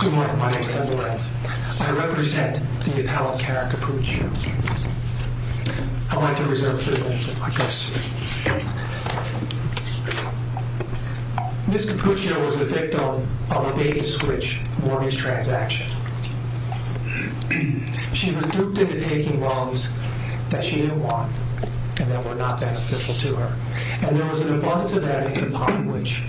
Good morning, my name is Ted Lorenz. I represent the appellant Karen Cappuccio. I'd like to reserve a few moments if I may. Ms. Cappuccio was the victim of a bait-and-switch mortgage transaction. She was duped into taking loans that she didn't want and that were not beneficial to her. And there was an abundance of evidence upon which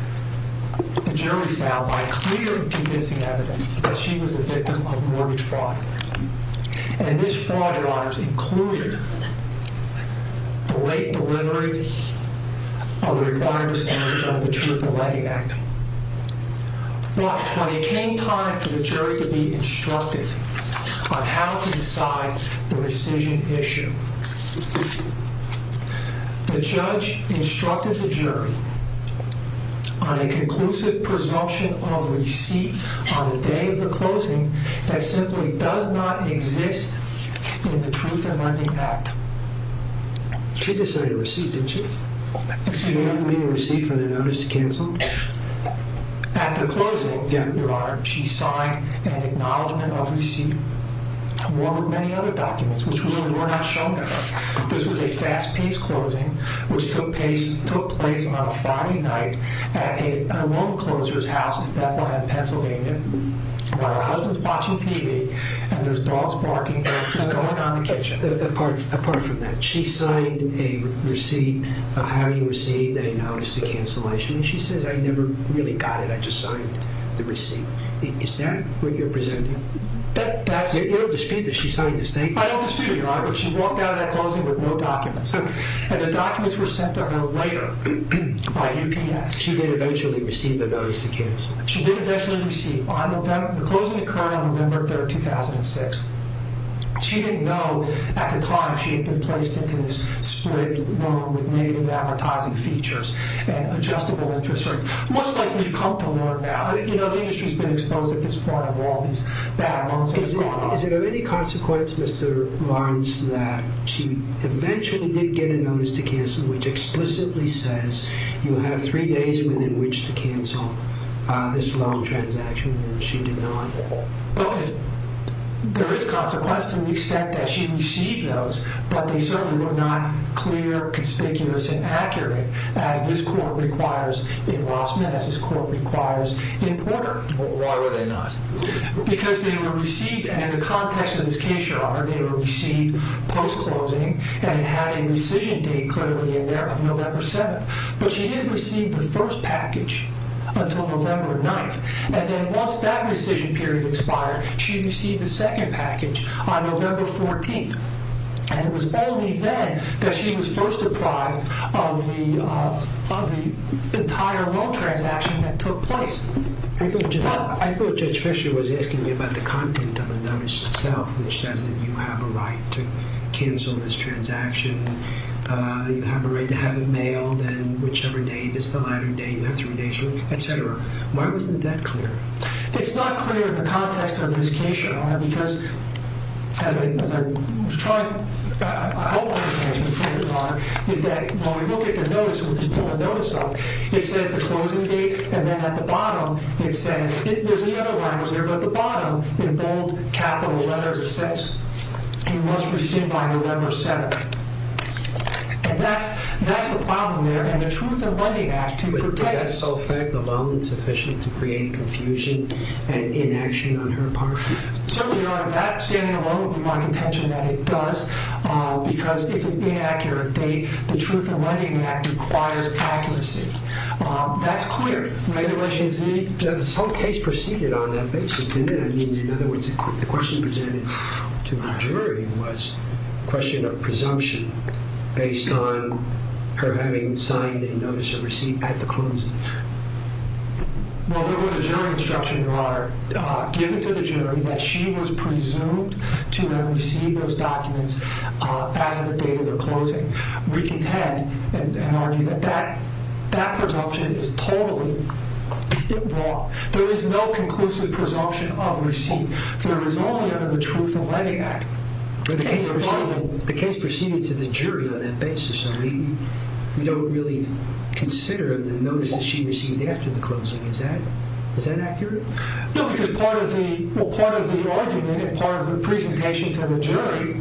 the jury found, by clear and convincing evidence, that she was a victim of mortgage fraud. And this fraud, Your Honors, included the late delivery of the required standards of the Truth in Lending Act. When it came time for the jury to be instructed on how to decide the decision issue, the judge instructed the jury on a conclusive presumption of receipt on the day of the closing that simply does not exist in the Truth in Lending Act. She decided to receive, didn't she? Excuse me? To receive for the notice to cancel? After closing, Your Honor, she signed an acknowledgment of receipt. One with many other documents, which really were not shown to her. This was a fast-paced closing, which took place on a Friday night at a loan closer's house in Bethlehem, Pennsylvania, while her husband's watching TV and there's dogs barking and she's going around the kitchen. Apart from that, she signed a receipt of how you received a notice to cancellation. And she says, I never really got it. I just signed the receipt. Is that what you're presenting? You don't dispute that she signed the receipt? I don't dispute it, Your Honor. But she walked out of that closing with no documents. And the documents were sent to her later by UPS. She did eventually receive the notice to cancel? She did eventually receive. The closing occurred on November 3rd, 2006. She didn't know at the time she had been placed into this split room with negative advertising features and adjustable interest rates. Much like we've come to learn now. You know, the industry's been exposed at this point of all these bad loans. Is it of any consequence, Mr. Lawrence, that she eventually did get a notice to cancel, which explicitly says you have three days within which to cancel this loan transaction, and she did not? There is consequence to the extent that she received those, but they certainly were not clear, conspicuous, and accurate, as this court requires in Rossman, as this court requires in Porter. Why were they not? Because they were received, and in the context of this case, Your Honor, they were received post-closing, and it had a rescission date clearly in there of November 7th. But she didn't receive the first package until November 9th. And then once that rescission period expired, she received the second package on November 14th. And it was only then that she was first apprised of the entire loan transaction that took place. I thought Judge Fisher was asking me about the content of the notice itself, which says that you have a right to cancel this transaction, you have a right to have it mailed, and whichever date, if it's the latter date, you have three days, et cetera. Why wasn't that clear? It's not clear in the context of this case, Your Honor, because as I was trying, I hope this answer is clear, Your Honor, is that when we look at the notice, when we pull the notice up, it says the closing date, and then at the bottom, it says, there's no other language there, but the bottom, in bold capital letters, it says you must rescind by November 7th. And that's the problem there, and the Truth in Lending Act, to protect— Is that self-fact alone sufficient to create confusion and inaction on her part? Certainly, Your Honor, that standing alone would be my contention that it does, because it's an inaccurate date. The Truth in Lending Act requires accuracy. That's clear, right, in relation to— This whole case proceeded on that basis, didn't it? I mean, in other words, the question presented to the jury was a question of presumption based on her having signed a notice of receipt at the closing. Well, there was a jury instruction, Your Honor, given to the jury, that she was presumed to have received those documents as of the date of their closing. We contend and argue that that presumption is totally wrong. There is no conclusive presumption of receipt. There is only under the Truth in Lending Act. The case proceeded to the jury on that basis, so we don't really consider the notices she received after the closing. Is that accurate? No, because part of the argument and part of the presentation to the jury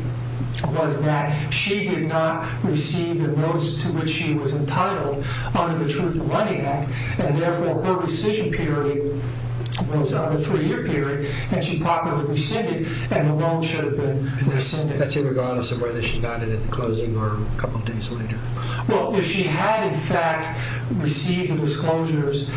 was that she did not receive the notice to which she was entitled under the Truth in Lending Act, and therefore her rescission period was a three-year period, and she properly rescinded, and the loan should have been rescinded. That's irregardless of whether she got it at the closing or a couple of days later? Well, if she had, in fact, received the disclosures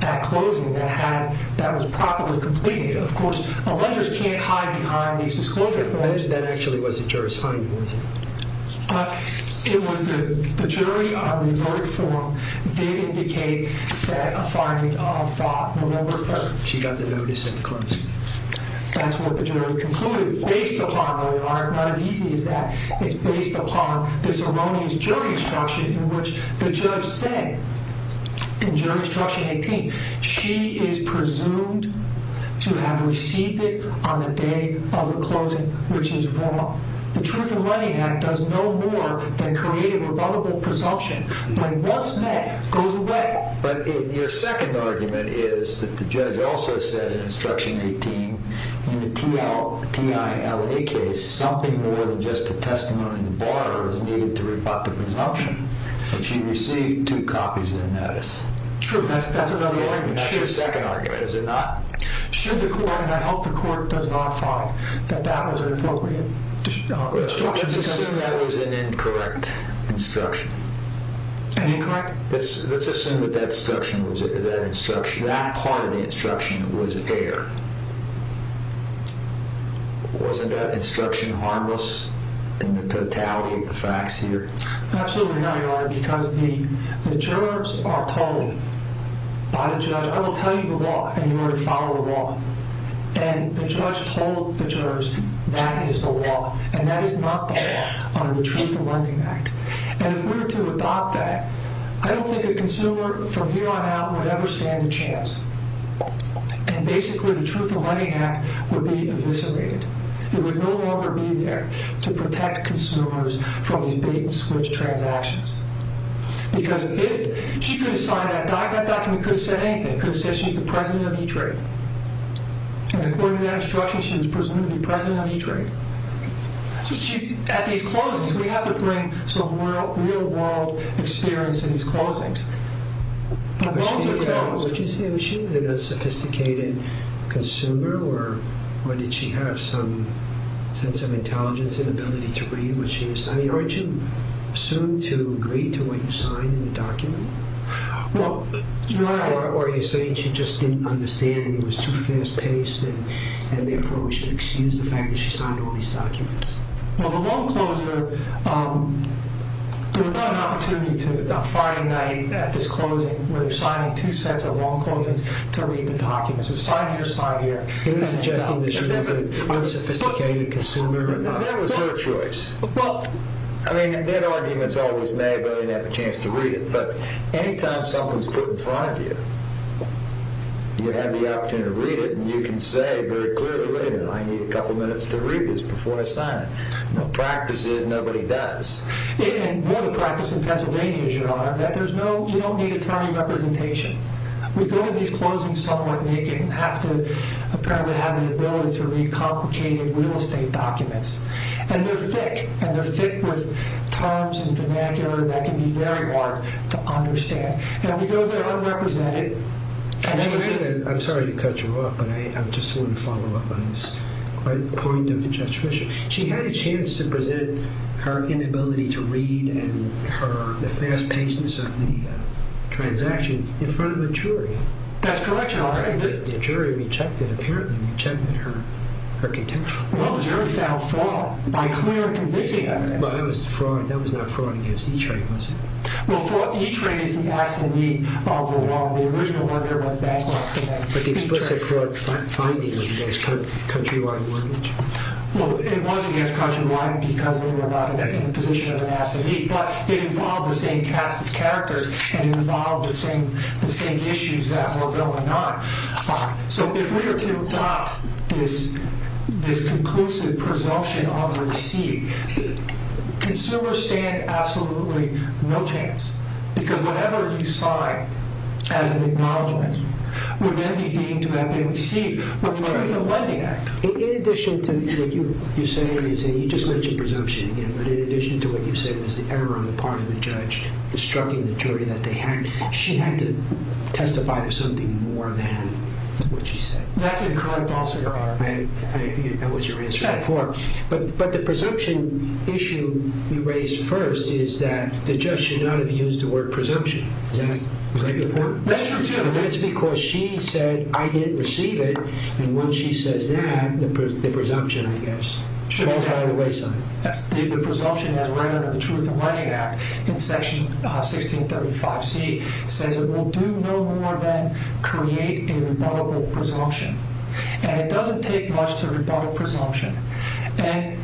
at closing that was properly completed. Of course, a lender can't hide behind these disclosure forms. That actually was the jury's finding, was it? It was the jury on the inverted form did indicate that a finding of fraud on November 3rd. She got the notice at the closing. That's what the jury concluded. Based upon, though it's not as easy as that, it's based upon this erroneous jury instruction in which the judge said in jury instruction 18, she is presumed to have received it on the day of the closing, which is wrong. The Truth in Lending Act does no more than create a rebuttable presumption, but once met, goes away. But your second argument is that the judge also said in instruction 18 in the TILA case, something more than just a testimony in the bar was needed to rebut the presumption, that she received two copies of the notice. True. That's another argument. That's your second argument, is it not? Should the court, and I hope the court does not find that that was an appropriate instruction. Let's assume that was an incorrect instruction. An incorrect? Let's assume that that instruction, that part of the instruction was error. Wasn't that instruction harmless in the totality of the facts here? Absolutely not, Your Honor, because the jurors are told by the judge, I will tell you the law, and you are to follow the law. And the judge told the jurors that is the law, and that is not the law under the Truth in Lending Act. And if we were to adopt that, I don't think a consumer from here on out would ever stand a chance. And basically the Truth in Lending Act would be eviscerated. It would no longer be there to protect consumers from these bait-and-switch transactions. Because if she could have signed that document, could have said anything, could have said she's the president of E-Trade. And according to that instruction, she was presumed to be president of E-Trade. At these closings, we have to bring some real-world experience in these closings. But both are closed. What did you say? Was she an unsophisticated consumer? Or did she have some sense of intelligence and ability to read what she was signing? Or did she assume to agree to what you signed in the document? Well, Your Honor... Or are you saying she just didn't understand and was too fast-paced and the approach would excuse the fact that she signed all these documents? Well, the long closure... There was not an opportunity on Friday night at this closing where they were signing two sets of long closings to read the documents. It was sign here, sign here. Are you suggesting that she was an unsophisticated consumer? That was her choice. I mean, that argument's always made, but I didn't have a chance to read it. But any time something's put in front of you, you have the opportunity to read it, and you can say very clearly, wait a minute, I need a couple minutes to read this before I sign it. No practice is, nobody does. And more the practice in Pennsylvania is, Your Honor, that you don't need attorney representation. We go to these closings somewhere and they have to apparently have the ability to read complicated real estate documents. And they're thick, and they're thick with terms and vernacular that can be very hard to understand. And we go there and represent it. I'm sorry to cut you off, but I just want to follow up on this point of Judge Fischer. She had a chance to present her inability to read and the fast paces of the transaction in front of a jury. That's correct, Your Honor. The jury rejected, apparently rejected her contention. Well, the jury found fraud by clear and convincing evidence. But that was fraud, that was not fraud against E-Train, was it? Well, E-Train is the S&E of the law. The original order went bankrupt. But the explicit fraud finding was against countrywide mortgage. Well, it was against countrywide because they were not in the position of an S&E. But it involved the same cast of characters and it involved the same issues that were going on. So if we were to adopt this conclusive presumption of receipt, consumers stand absolutely no chance because whatever you sign as an acknowledgment would then be deemed to have been received. But the Truth in Lending Act, in addition to what you say, you just mentioned presumption again, but in addition to what you said was the error on the part of the judge in striking the jury that they had, she had to testify to something more than what she said. That's incorrect also, Your Honor. That was your answer before. But the presumption issue you raised first is that the judge should not have used the word presumption. Is that a good point? That's true, too. And that's because she said, I didn't receive it. And when she says that, the presumption, I guess, goes out of the way. The presumption that's right under the Truth in Lending Act, in Section 1635C, says it will do no more than create a rebuttable presumption. And it doesn't take much to rebut a presumption. And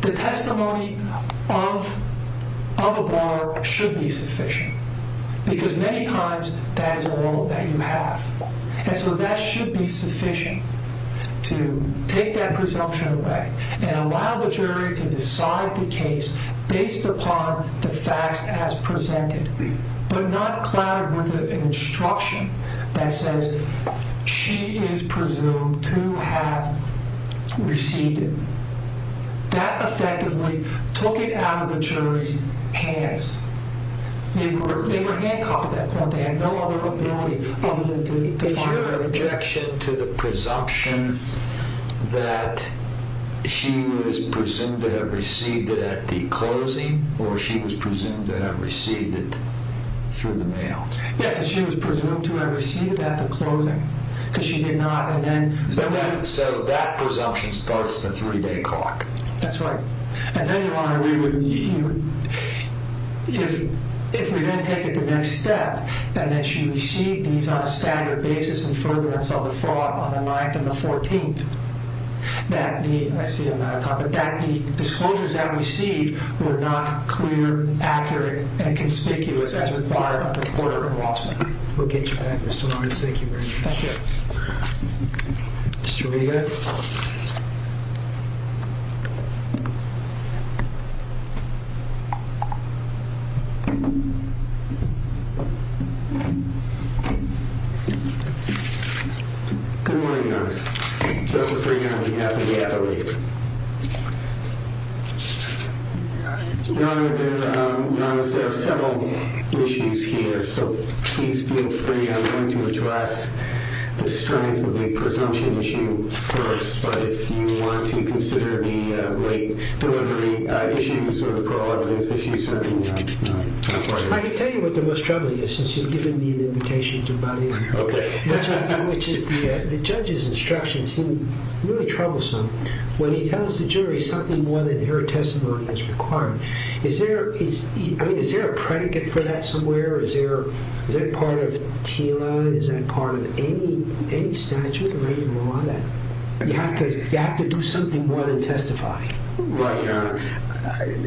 the testimony of a bar should be sufficient because many times that is all that you have. And so that should be sufficient to take that presumption away and allow the jury to decide the case based upon the facts as presented but not clouded with an instruction that says she is presumed to have received it. That effectively took it out of the jury's hands. They were handcuffed at that point. They had no other ability other than to find her. Is your objection to the presumption that she was presumed to have received it at the closing or she was presumed to have received it through the mail? Yes, that she was presumed to have received it at the closing because she did not and then... So that presumption starts the three-day clock. That's right. And then you want to... If we then take it the next step and that she received these on a standard basis in furtherance of the fraud on the 9th and the 14th, that the, I see I'm out of time, that the disclosures that we see were not clear, accurate, and conspicuous as required by the court of law. We'll get you back, Mr. Lawrence. Thank you very much. Thank you. Mr. Regan. Good morning, Your Honor. Justice Regan, on behalf of the advocate. Your Honor, there are several issues here, so please feel free. I'm going to address the strength of the presumption issue first, but if you want to consider the late delivery issues or the parole evidence issues, certainly not. I can tell you what the most troubling is since you've given me an invitation to body it. Okay. Which is the judge's instructions seem really troublesome when he tells the jury something more than their testimony is required. Is there a predicate for that somewhere? Is that part of TILA? Is that part of any statute or any law? You have to do something more than testify. Right, Your Honor. And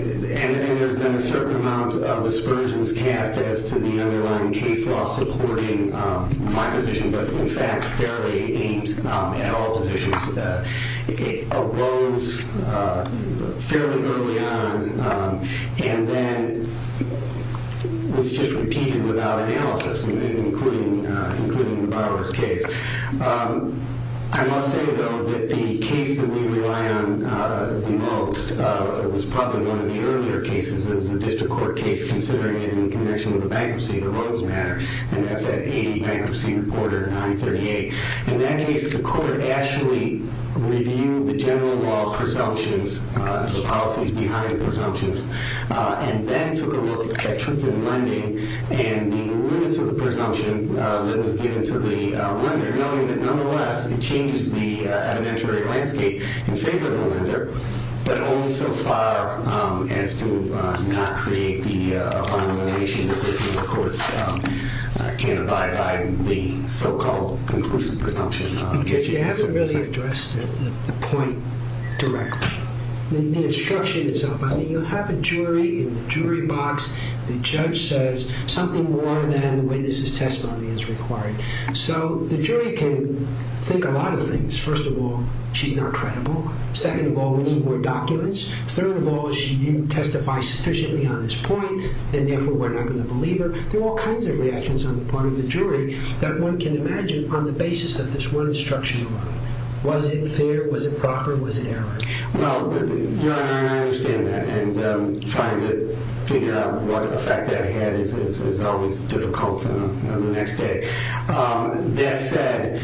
there's been a certain amount of aspersions cast as to the underlying case law supporting my position, but in fact fairly aimed at all positions. It arose fairly early on and then was just repeated without analysis, including the borrower's case. I must say, though, that the case that we rely on the most was probably one of the earlier cases. It was a district court case, considering it in connection with the bankruptcy of the Rhodes matter, and that's at 80 Bankruptcy Reporter 938. In that case, the court actually reviewed the general law presumptions, the policies behind the presumptions, and then took a look at truth in lending and the limits of the presumption that was given to the lender, knowing that nonetheless it changes the evidentiary landscape in favor of the lender, but only so far as to not create the abomination that this court can abide by the so-called conclusive presumption. But Judge, you haven't really addressed the point directly, the instruction itself. I mean, you have a jury in the jury box. The judge says something more than the witness's testimony is required. So the jury can think a lot of things. First of all, she's not credible. Second of all, we need more documents. Third of all, she didn't testify sufficiently on this point, and therefore we're not going to believe her. There are all kinds of reactions on the part of the jury that one can imagine on the basis of this one instruction alone. Was it fair? Was it proper? Was it error? Well, I understand that, and trying to figure out what effect that had is always difficult the next day. That said,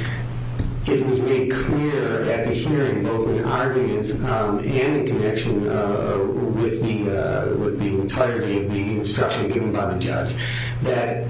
it was made clear at the hearing, both in argument and in connection with the entirety of the instruction given by the judge, that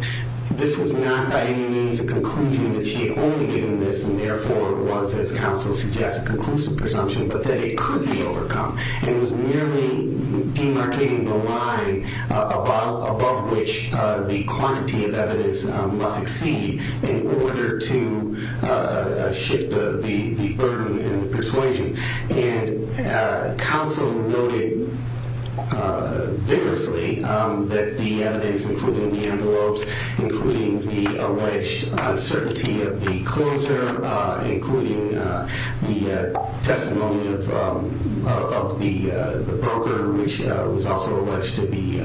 this was not by any means a conclusion that she had only given this and therefore was, as counsel suggests, a conclusive presumption, but that it could be overcome. It was merely demarcating the line above which the quantity of evidence must exceed in order to shift the burden and the persuasion. And counsel noted vigorously that the evidence, including the envelopes, including the alleged uncertainty of the closer, including the testimony of the broker, which was also alleged to be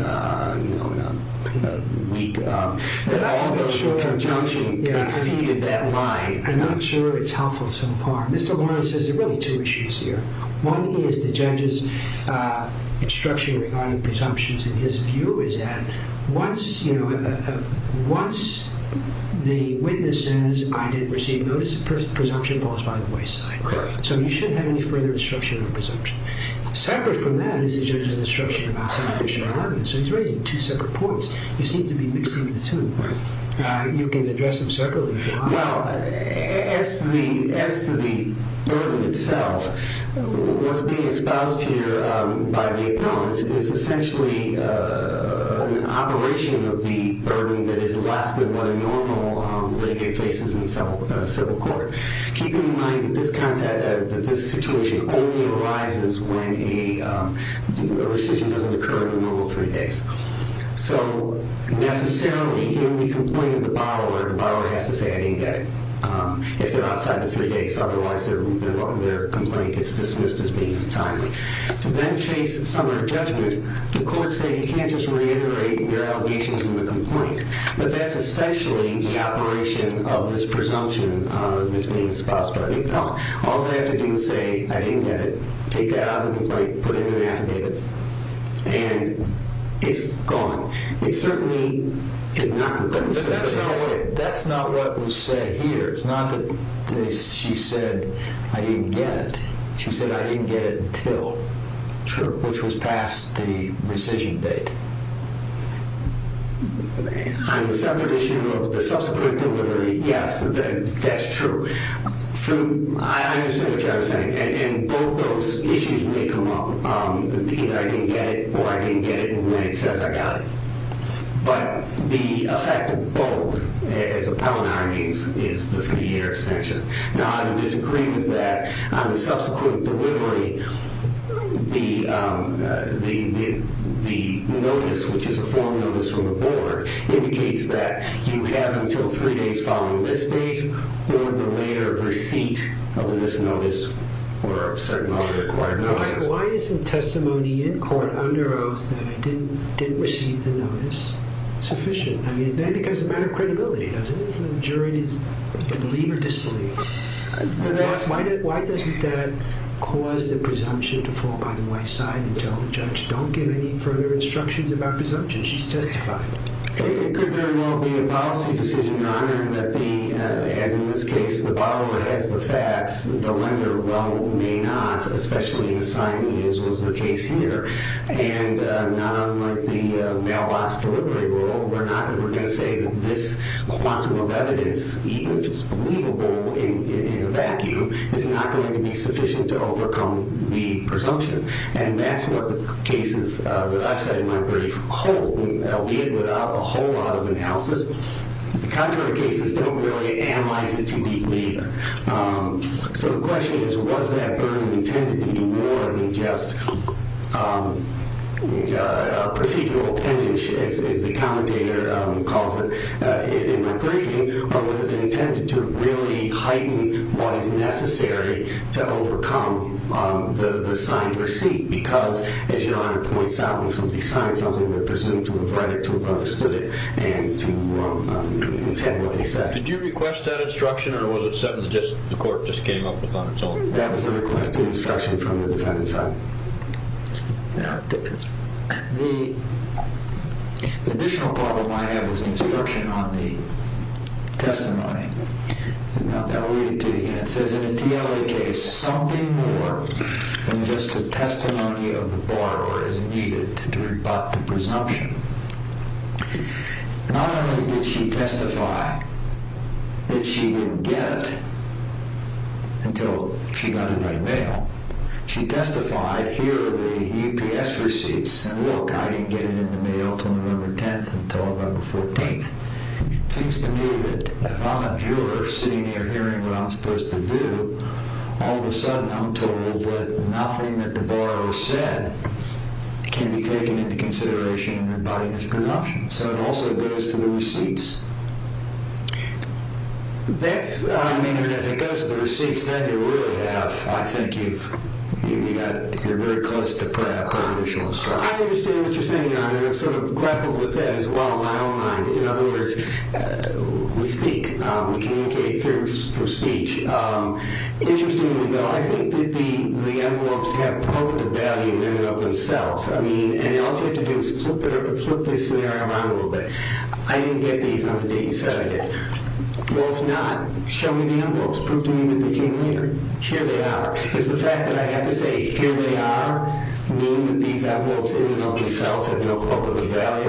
weak, that all those with presumption exceeded that line. I'm not sure it's helpful so far. Mr. Warren says there are really two issues here. One is the judge's instruction regarding presumptions and his view is that once the witness says, I didn't receive notice of presumption, it falls by the wayside. So you shouldn't have any further instruction on presumption. Separate from that is the judge's instruction about some additional evidence. So he's raising two separate points. You seem to be mixing the two. You can address them separately if you want. Well, as to the burden itself, what's being espoused here by the appellant is essentially an aberration of the burden that is less than what a normal litigate faces in civil court. Keep in mind that this situation only arises when a rescission doesn't occur in the normal three days. So necessarily, if we complain to the bottler, the bottler has to say, I didn't get it, if they're outside the three days. Otherwise, their complaint gets dismissed as being timely. To then face summary judgment, the courts say you can't just reiterate your allegations in the complaint. But that's essentially the aberration of this presumption, this being espoused by the appellant. All they have to do is say, I didn't get it, take that out of the complaint, put it in an affidavit, and it's gone. It certainly is not complete. But that's not what was said here. It's not that she said, I didn't get it. She said, I didn't get it until, which was past the rescission date. On the separate issue of the subsequent delivery, yes, that's true. I understand what you're saying. And both those issues may come up, either I didn't get it or I didn't get it when it says I got it. But the effect of both, as appellant argues, is the three-year extension. Now, I would disagree with that. On the subsequent delivery, the notice, which is a form notice from the board, indicates that you have until three days following this date or the later receipt of this notice or of certain other required notices. Why isn't testimony in court under oath that I didn't receive the notice sufficient? I mean, that becomes a matter of credibility, doesn't it? The jury can believe or disbelieve. Why doesn't that cause the presumption to fall by the white side and tell the judge, don't give any further instructions about presumption? It could very well be a policy decision, Your Honor, that, as in this case, the borrower has the facts, the lender, well, may not, especially in the signing as was the case here. And not unlike the mail-box delivery rule, we're not ever going to say that this quantum of evidence, even if it's believable in a vacuum, is not going to be sufficient to overcome the presumption. And that's what the cases I've cited in my brief hold, albeit without a whole lot of analysis. The contrary cases don't really analyze it too deeply either. So the question is, was that burden intended to be more than just procedural appendage, as the commentator calls it in my briefing, or was it intended to really heighten what is necessary to overcome the signed receipt? Because, as Your Honor points out, when somebody signs something, they're presumed to have read it, to have understood it, and to intend what they said. Did you request that instruction, or was it something the court just came up with on its own? That was a request for instruction from the defendant's side. The additional part of my evidence instruction on the testimony, and I'll read it to you again, it says, in a TLA case, something more than just a testimony of the borrower is needed to rebut the presumption. Not only did she testify that she didn't get it until she got it by mail, she testified, here are the UPS receipts, and look, I didn't get it in the mail until November 10th, until November 14th. It seems to me that if I'm a juror, sitting here hearing what I'm supposed to do, all of a sudden I'm told that nothing that the borrower said can be taken into consideration in rebutting his presumption. So it also goes to the receipts. That's, I mean, if it goes to the receipts, then you really have, I think you've, you've got, you're very close to pre-judicial instruction. I understand what you're saying, Your Honor. I'm sort of grappled with that as well, in my own mind. In other words, we speak, we communicate through speech. Interestingly, though, I think that the envelopes have public value in and of themselves. I mean, and I also have to flip this scenario around a little bit. I didn't get these on the day you said I did. Well, if not, show me the envelopes. Prove to me that they came here. Here they are. Because the fact that I have to say, here they are, meaning that these envelopes in and of themselves have no public value, I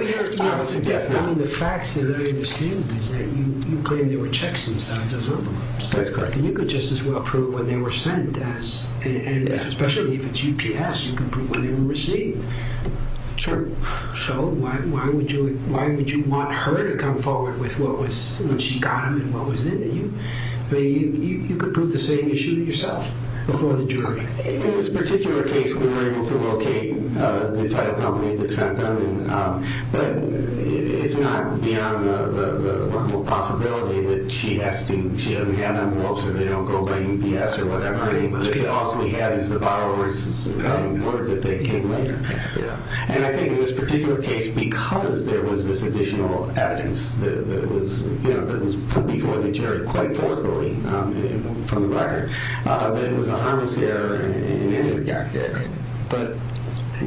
mean, the facts that I understand is that you claim there were checks inside those envelopes. That's correct. And you could just as well prove when they were sent as, and especially the GPS, you could prove when they were received. Sure. So why would you, why would you want her to come forward with what was, when she got them and what was in them? I mean, you could prove the same issue yourself before the jury. In this particular case, we were able to locate the title company that sent them, but it's not beyond the humble possibility that she has to, she doesn't have envelopes or they don't go by UPS or whatever. All she has is the borrower's word that they came later. Yeah. And I think in this particular case, because there was this additional evidence that was, you know, that was put before the jury quite forcibly from the record, that it was a harmless error in any regard. Right. But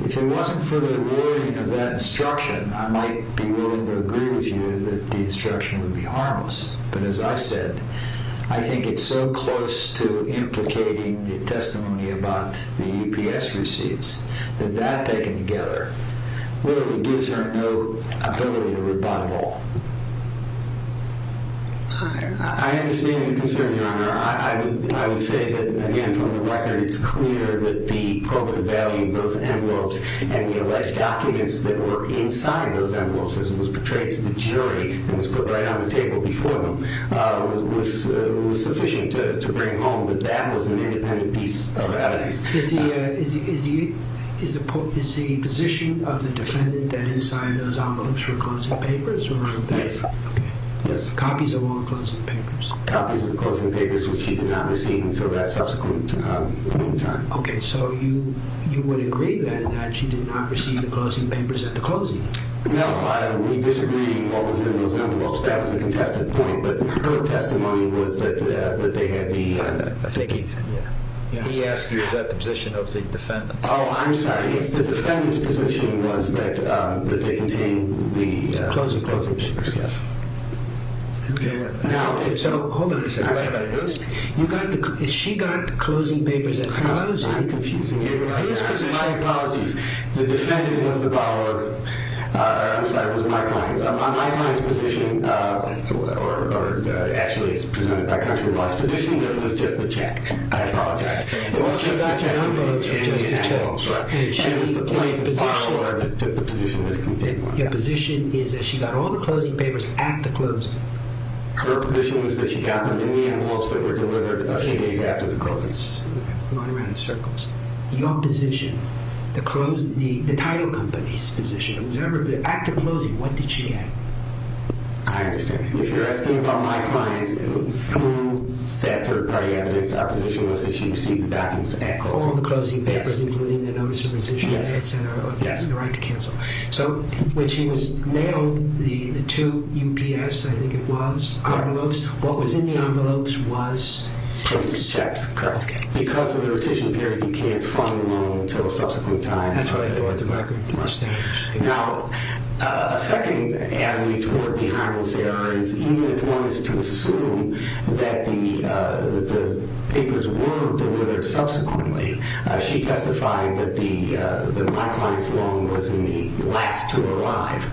if it wasn't for the wording of that instruction, I might be willing to agree with you that the instruction would be harmless. But as I said, I think it's so close to implicating the testimony about the UPS receipts that that taken together literally gives her no ability to rebuttal. I understand your concern, Your Honor. I would say that, again, from the record, it's clear that the probative value of those envelopes and the alleged documents that were inside those envelopes, as it was portrayed to the jury and was put right on the table before them, was sufficient to bring home that that was an independent piece of evidence. Is the position of the defendant that inside those envelopes were closing papers? Yes. Okay. Yes. Copies of all the closing papers? Copies of the closing papers, which she did not receive until that subsequent point in time. Okay. So you would agree, then, that she did not receive the closing papers at the closing? No. We disagreed what was in those envelopes. That was a contested point. But her testimony was that they had the thickies. He asked you, is that the position of the defendant? Oh, I'm sorry. The defendant's position was that they contained the closing papers. Okay. Hold on a second. She got the closing papers at the closing? I'm confusing you. My apologies. The defendant was the borrower. I'm sorry. It was my client. My client's position, or actually it's presented by country law's position, that it was just the check. I apologize. It was just the check. It was just the check. She was the plaintiff's borrower. The position is that she got all the closing papers at the closing. Her position was that she got them in the envelopes that were delivered a few days after the closing. I'm going around in circles. Your position, the title company's position, after closing, what did she get? I understand. If you're asking about my client, through sad third-party evidence, our position was that she received the documents at closing. All the closing papers, including the notice of resignation, et cetera, and the right to cancel. When she was nailed, the two UPS, I think it was, envelopes, what was in the envelopes was? Checks. Correct. Because of the retention period, you can't fund a loan until a subsequent time. That's what I thought. That's what I could understand. Now, a second avenue toward behind those errors, even if one is to assume that the papers were delivered subsequently, she testified that my client's loan was in the last to arrive.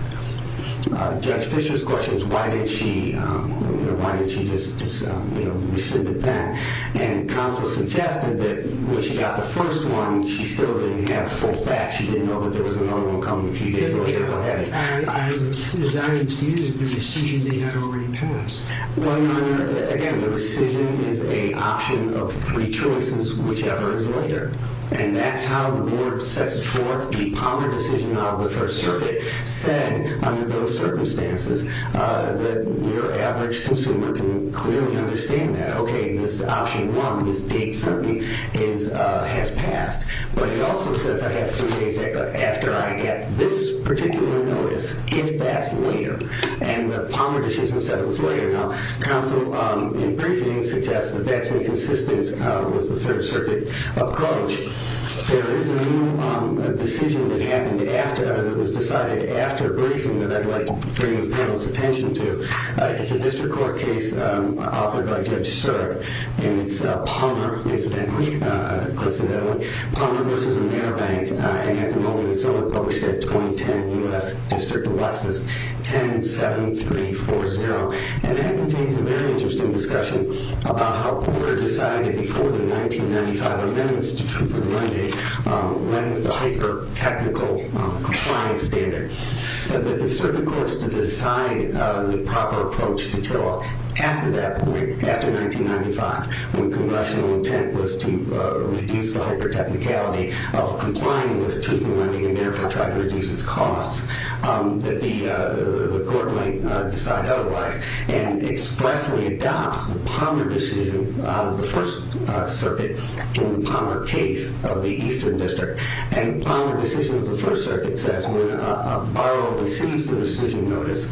Judge Fischer's question is, why didn't she just rescind it then? And Consol suggested that when she got the first one, she still didn't have full facts. She didn't know that there was another one coming a few days later. As I understand it, the rescission they had already passed. Well, Your Honor, again, the rescission is an option of three choices, whichever is later. And that's how the board sets forth the Palmer decision on the First Circuit, said under those circumstances that your average consumer can clearly understand that, okay, this option one, this date certainly has passed. But it also says I have three days after I get this particular notice, if that's later. And the Palmer decision said it was later. Now, counsel in briefing suggests that that's inconsistent with the Third Circuit approach. There is a new decision that happened after that, that was decided after a briefing that I'd like to bring the panel's attention to. It's a district court case authored by Judge Shurick, and it's Palmer v. Meribank. And at the moment, it's only published at 2010 U.S. District of Lexis. 10-7-3-4-0. And that contains a very interesting discussion about how the board decided before the 1995 amendments to Truth in Lending, when the hyper-technical compliance standard. The circuit courts to decide the proper approach until after that point, after 1995, when congressional intent was to reduce the hyper-technicality of complying with Truth in Lending and therefore try to reduce its costs, that the court might decide otherwise and expressly adopt the Palmer decision of the First Circuit in the Palmer case of the Eastern District. And the Palmer decision of the First Circuit says when a borrower receives the decision notice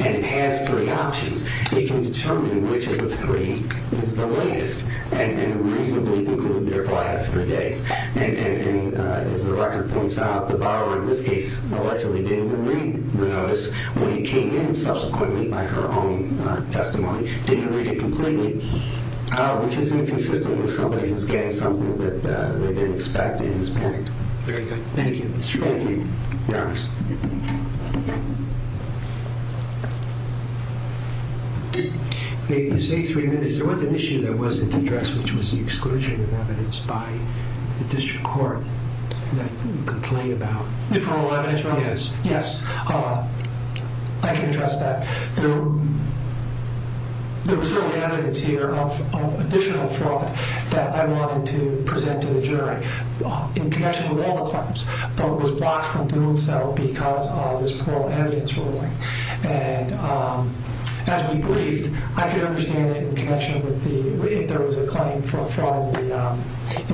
and it has three options, it can determine which of the three is the latest and reasonably conclude, therefore, I have three days. And as the record points out, the borrower in this case allegedly didn't even read the notice when it came in subsequently by her own testimony. Didn't read it completely, which is inconsistent with somebody who's getting something that they didn't expect and is panicked. Very good. Thank you, Mr. Shurick. Thank you. Your Honor. You say three minutes. There was an issue that wasn't addressed, which was the exclusion of evidence by the district court that you complain about. The parole evidence ruling? Yes. Yes. I can address that. There was no evidence here of additional fraud that I wanted to present to the jury in connection with all the claims, but it was blocked from doing so because of this parole evidence ruling. And as we briefed, I could understand it in connection with the, if there was a claim for fraud in the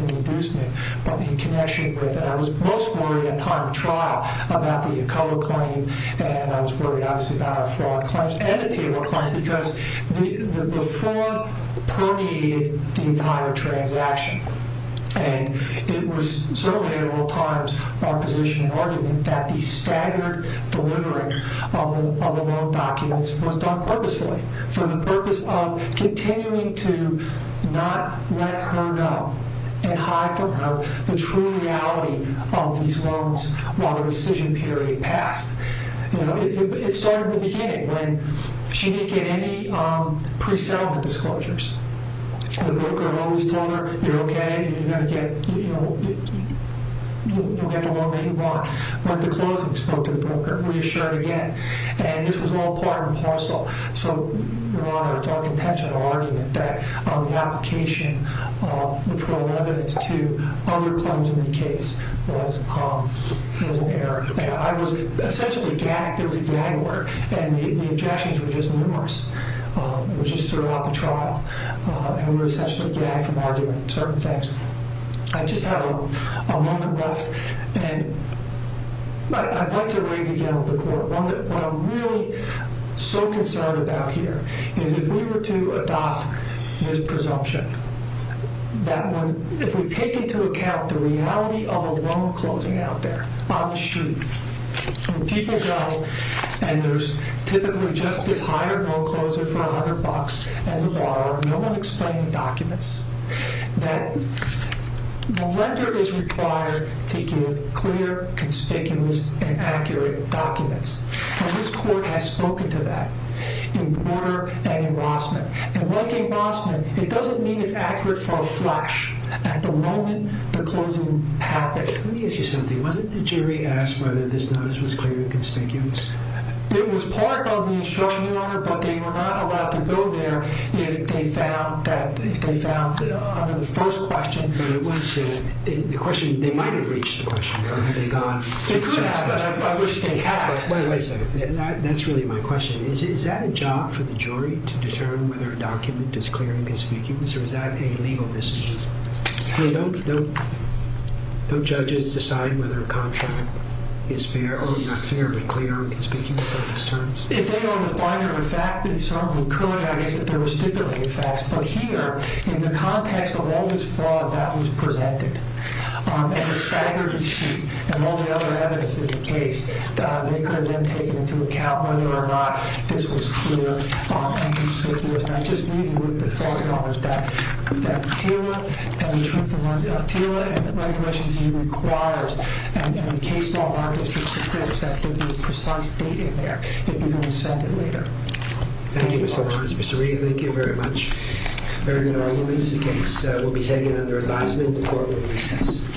inducement, but in connection with, and I was most worried at time of trial about the Acola claim and I was worried, obviously, about a fraud claim and a table claim because the fraud permeated the entire transaction. that the staggered delivery of the loan documents was done purposefully for the purpose of continuing to not let her know and hide from her the true reality of these loans while the rescission period passed. It started at the beginning when she didn't get any pre-settlement disclosures. The broker had always told her, you're okay, you're going to get the loan that you want. But the closing spoke to the broker, reassured again. And this was all part and parcel. So, Your Honor, it's our contention or argument that the application of the parole evidence to other claims in the case was an error. I was essentially gagged. There was a gag order and the objections were just numerous. It was just throughout the trial. And we were essentially gagged from arguing certain things. I just have a moment left and I'd like to raise again with the court what I'm really so concerned about here is if we were to adopt this presumption that if we take into account the reality of a loan closing out there on the street where people go and there's typically just this hired loan closer for $100 at the bar, no one explaining documents, that the lender is required to give clear, conspicuous, and accurate documents. And this court has spoken to that in Border and in Rossman. And like in Rossman, it doesn't mean it's accurate for a flash. At the moment, the closing happened. Let me ask you something. Wasn't the jury asked whether this notice was clear and conspicuous? It was part of the instruction, Your Honor, but they were not allowed to go there if they found the first question. The question, they might have reached the question, Your Honor. They could have, but I wish they had. Wait a second. That's really my question. Is that a job for the jury to determine whether a document is clear and conspicuous or is that a legal decision? Don't judges decide whether a contract is fair or not fair, but clear and conspicuous on these terms? If they were on the binder of a fact, then certainly, currently I guess if there were stipulated facts. But here, in the context of all this fraud that was presented, and the staggered receipt, and all the other evidence in the case, they could have then taken into account whether or not this was clear and conspicuous. And I just need you to look at the form, Your Honor, that TILA and the truth of TILA and the regulations he requires and in case, Your Honor, if it's the case, that there'd be precise data there. You'd be able to send it later. Thank you, Mr. Lawrence. Mr. Reed, thank you very much. Very good arguments. The case will be taken under advisement. The court will recess.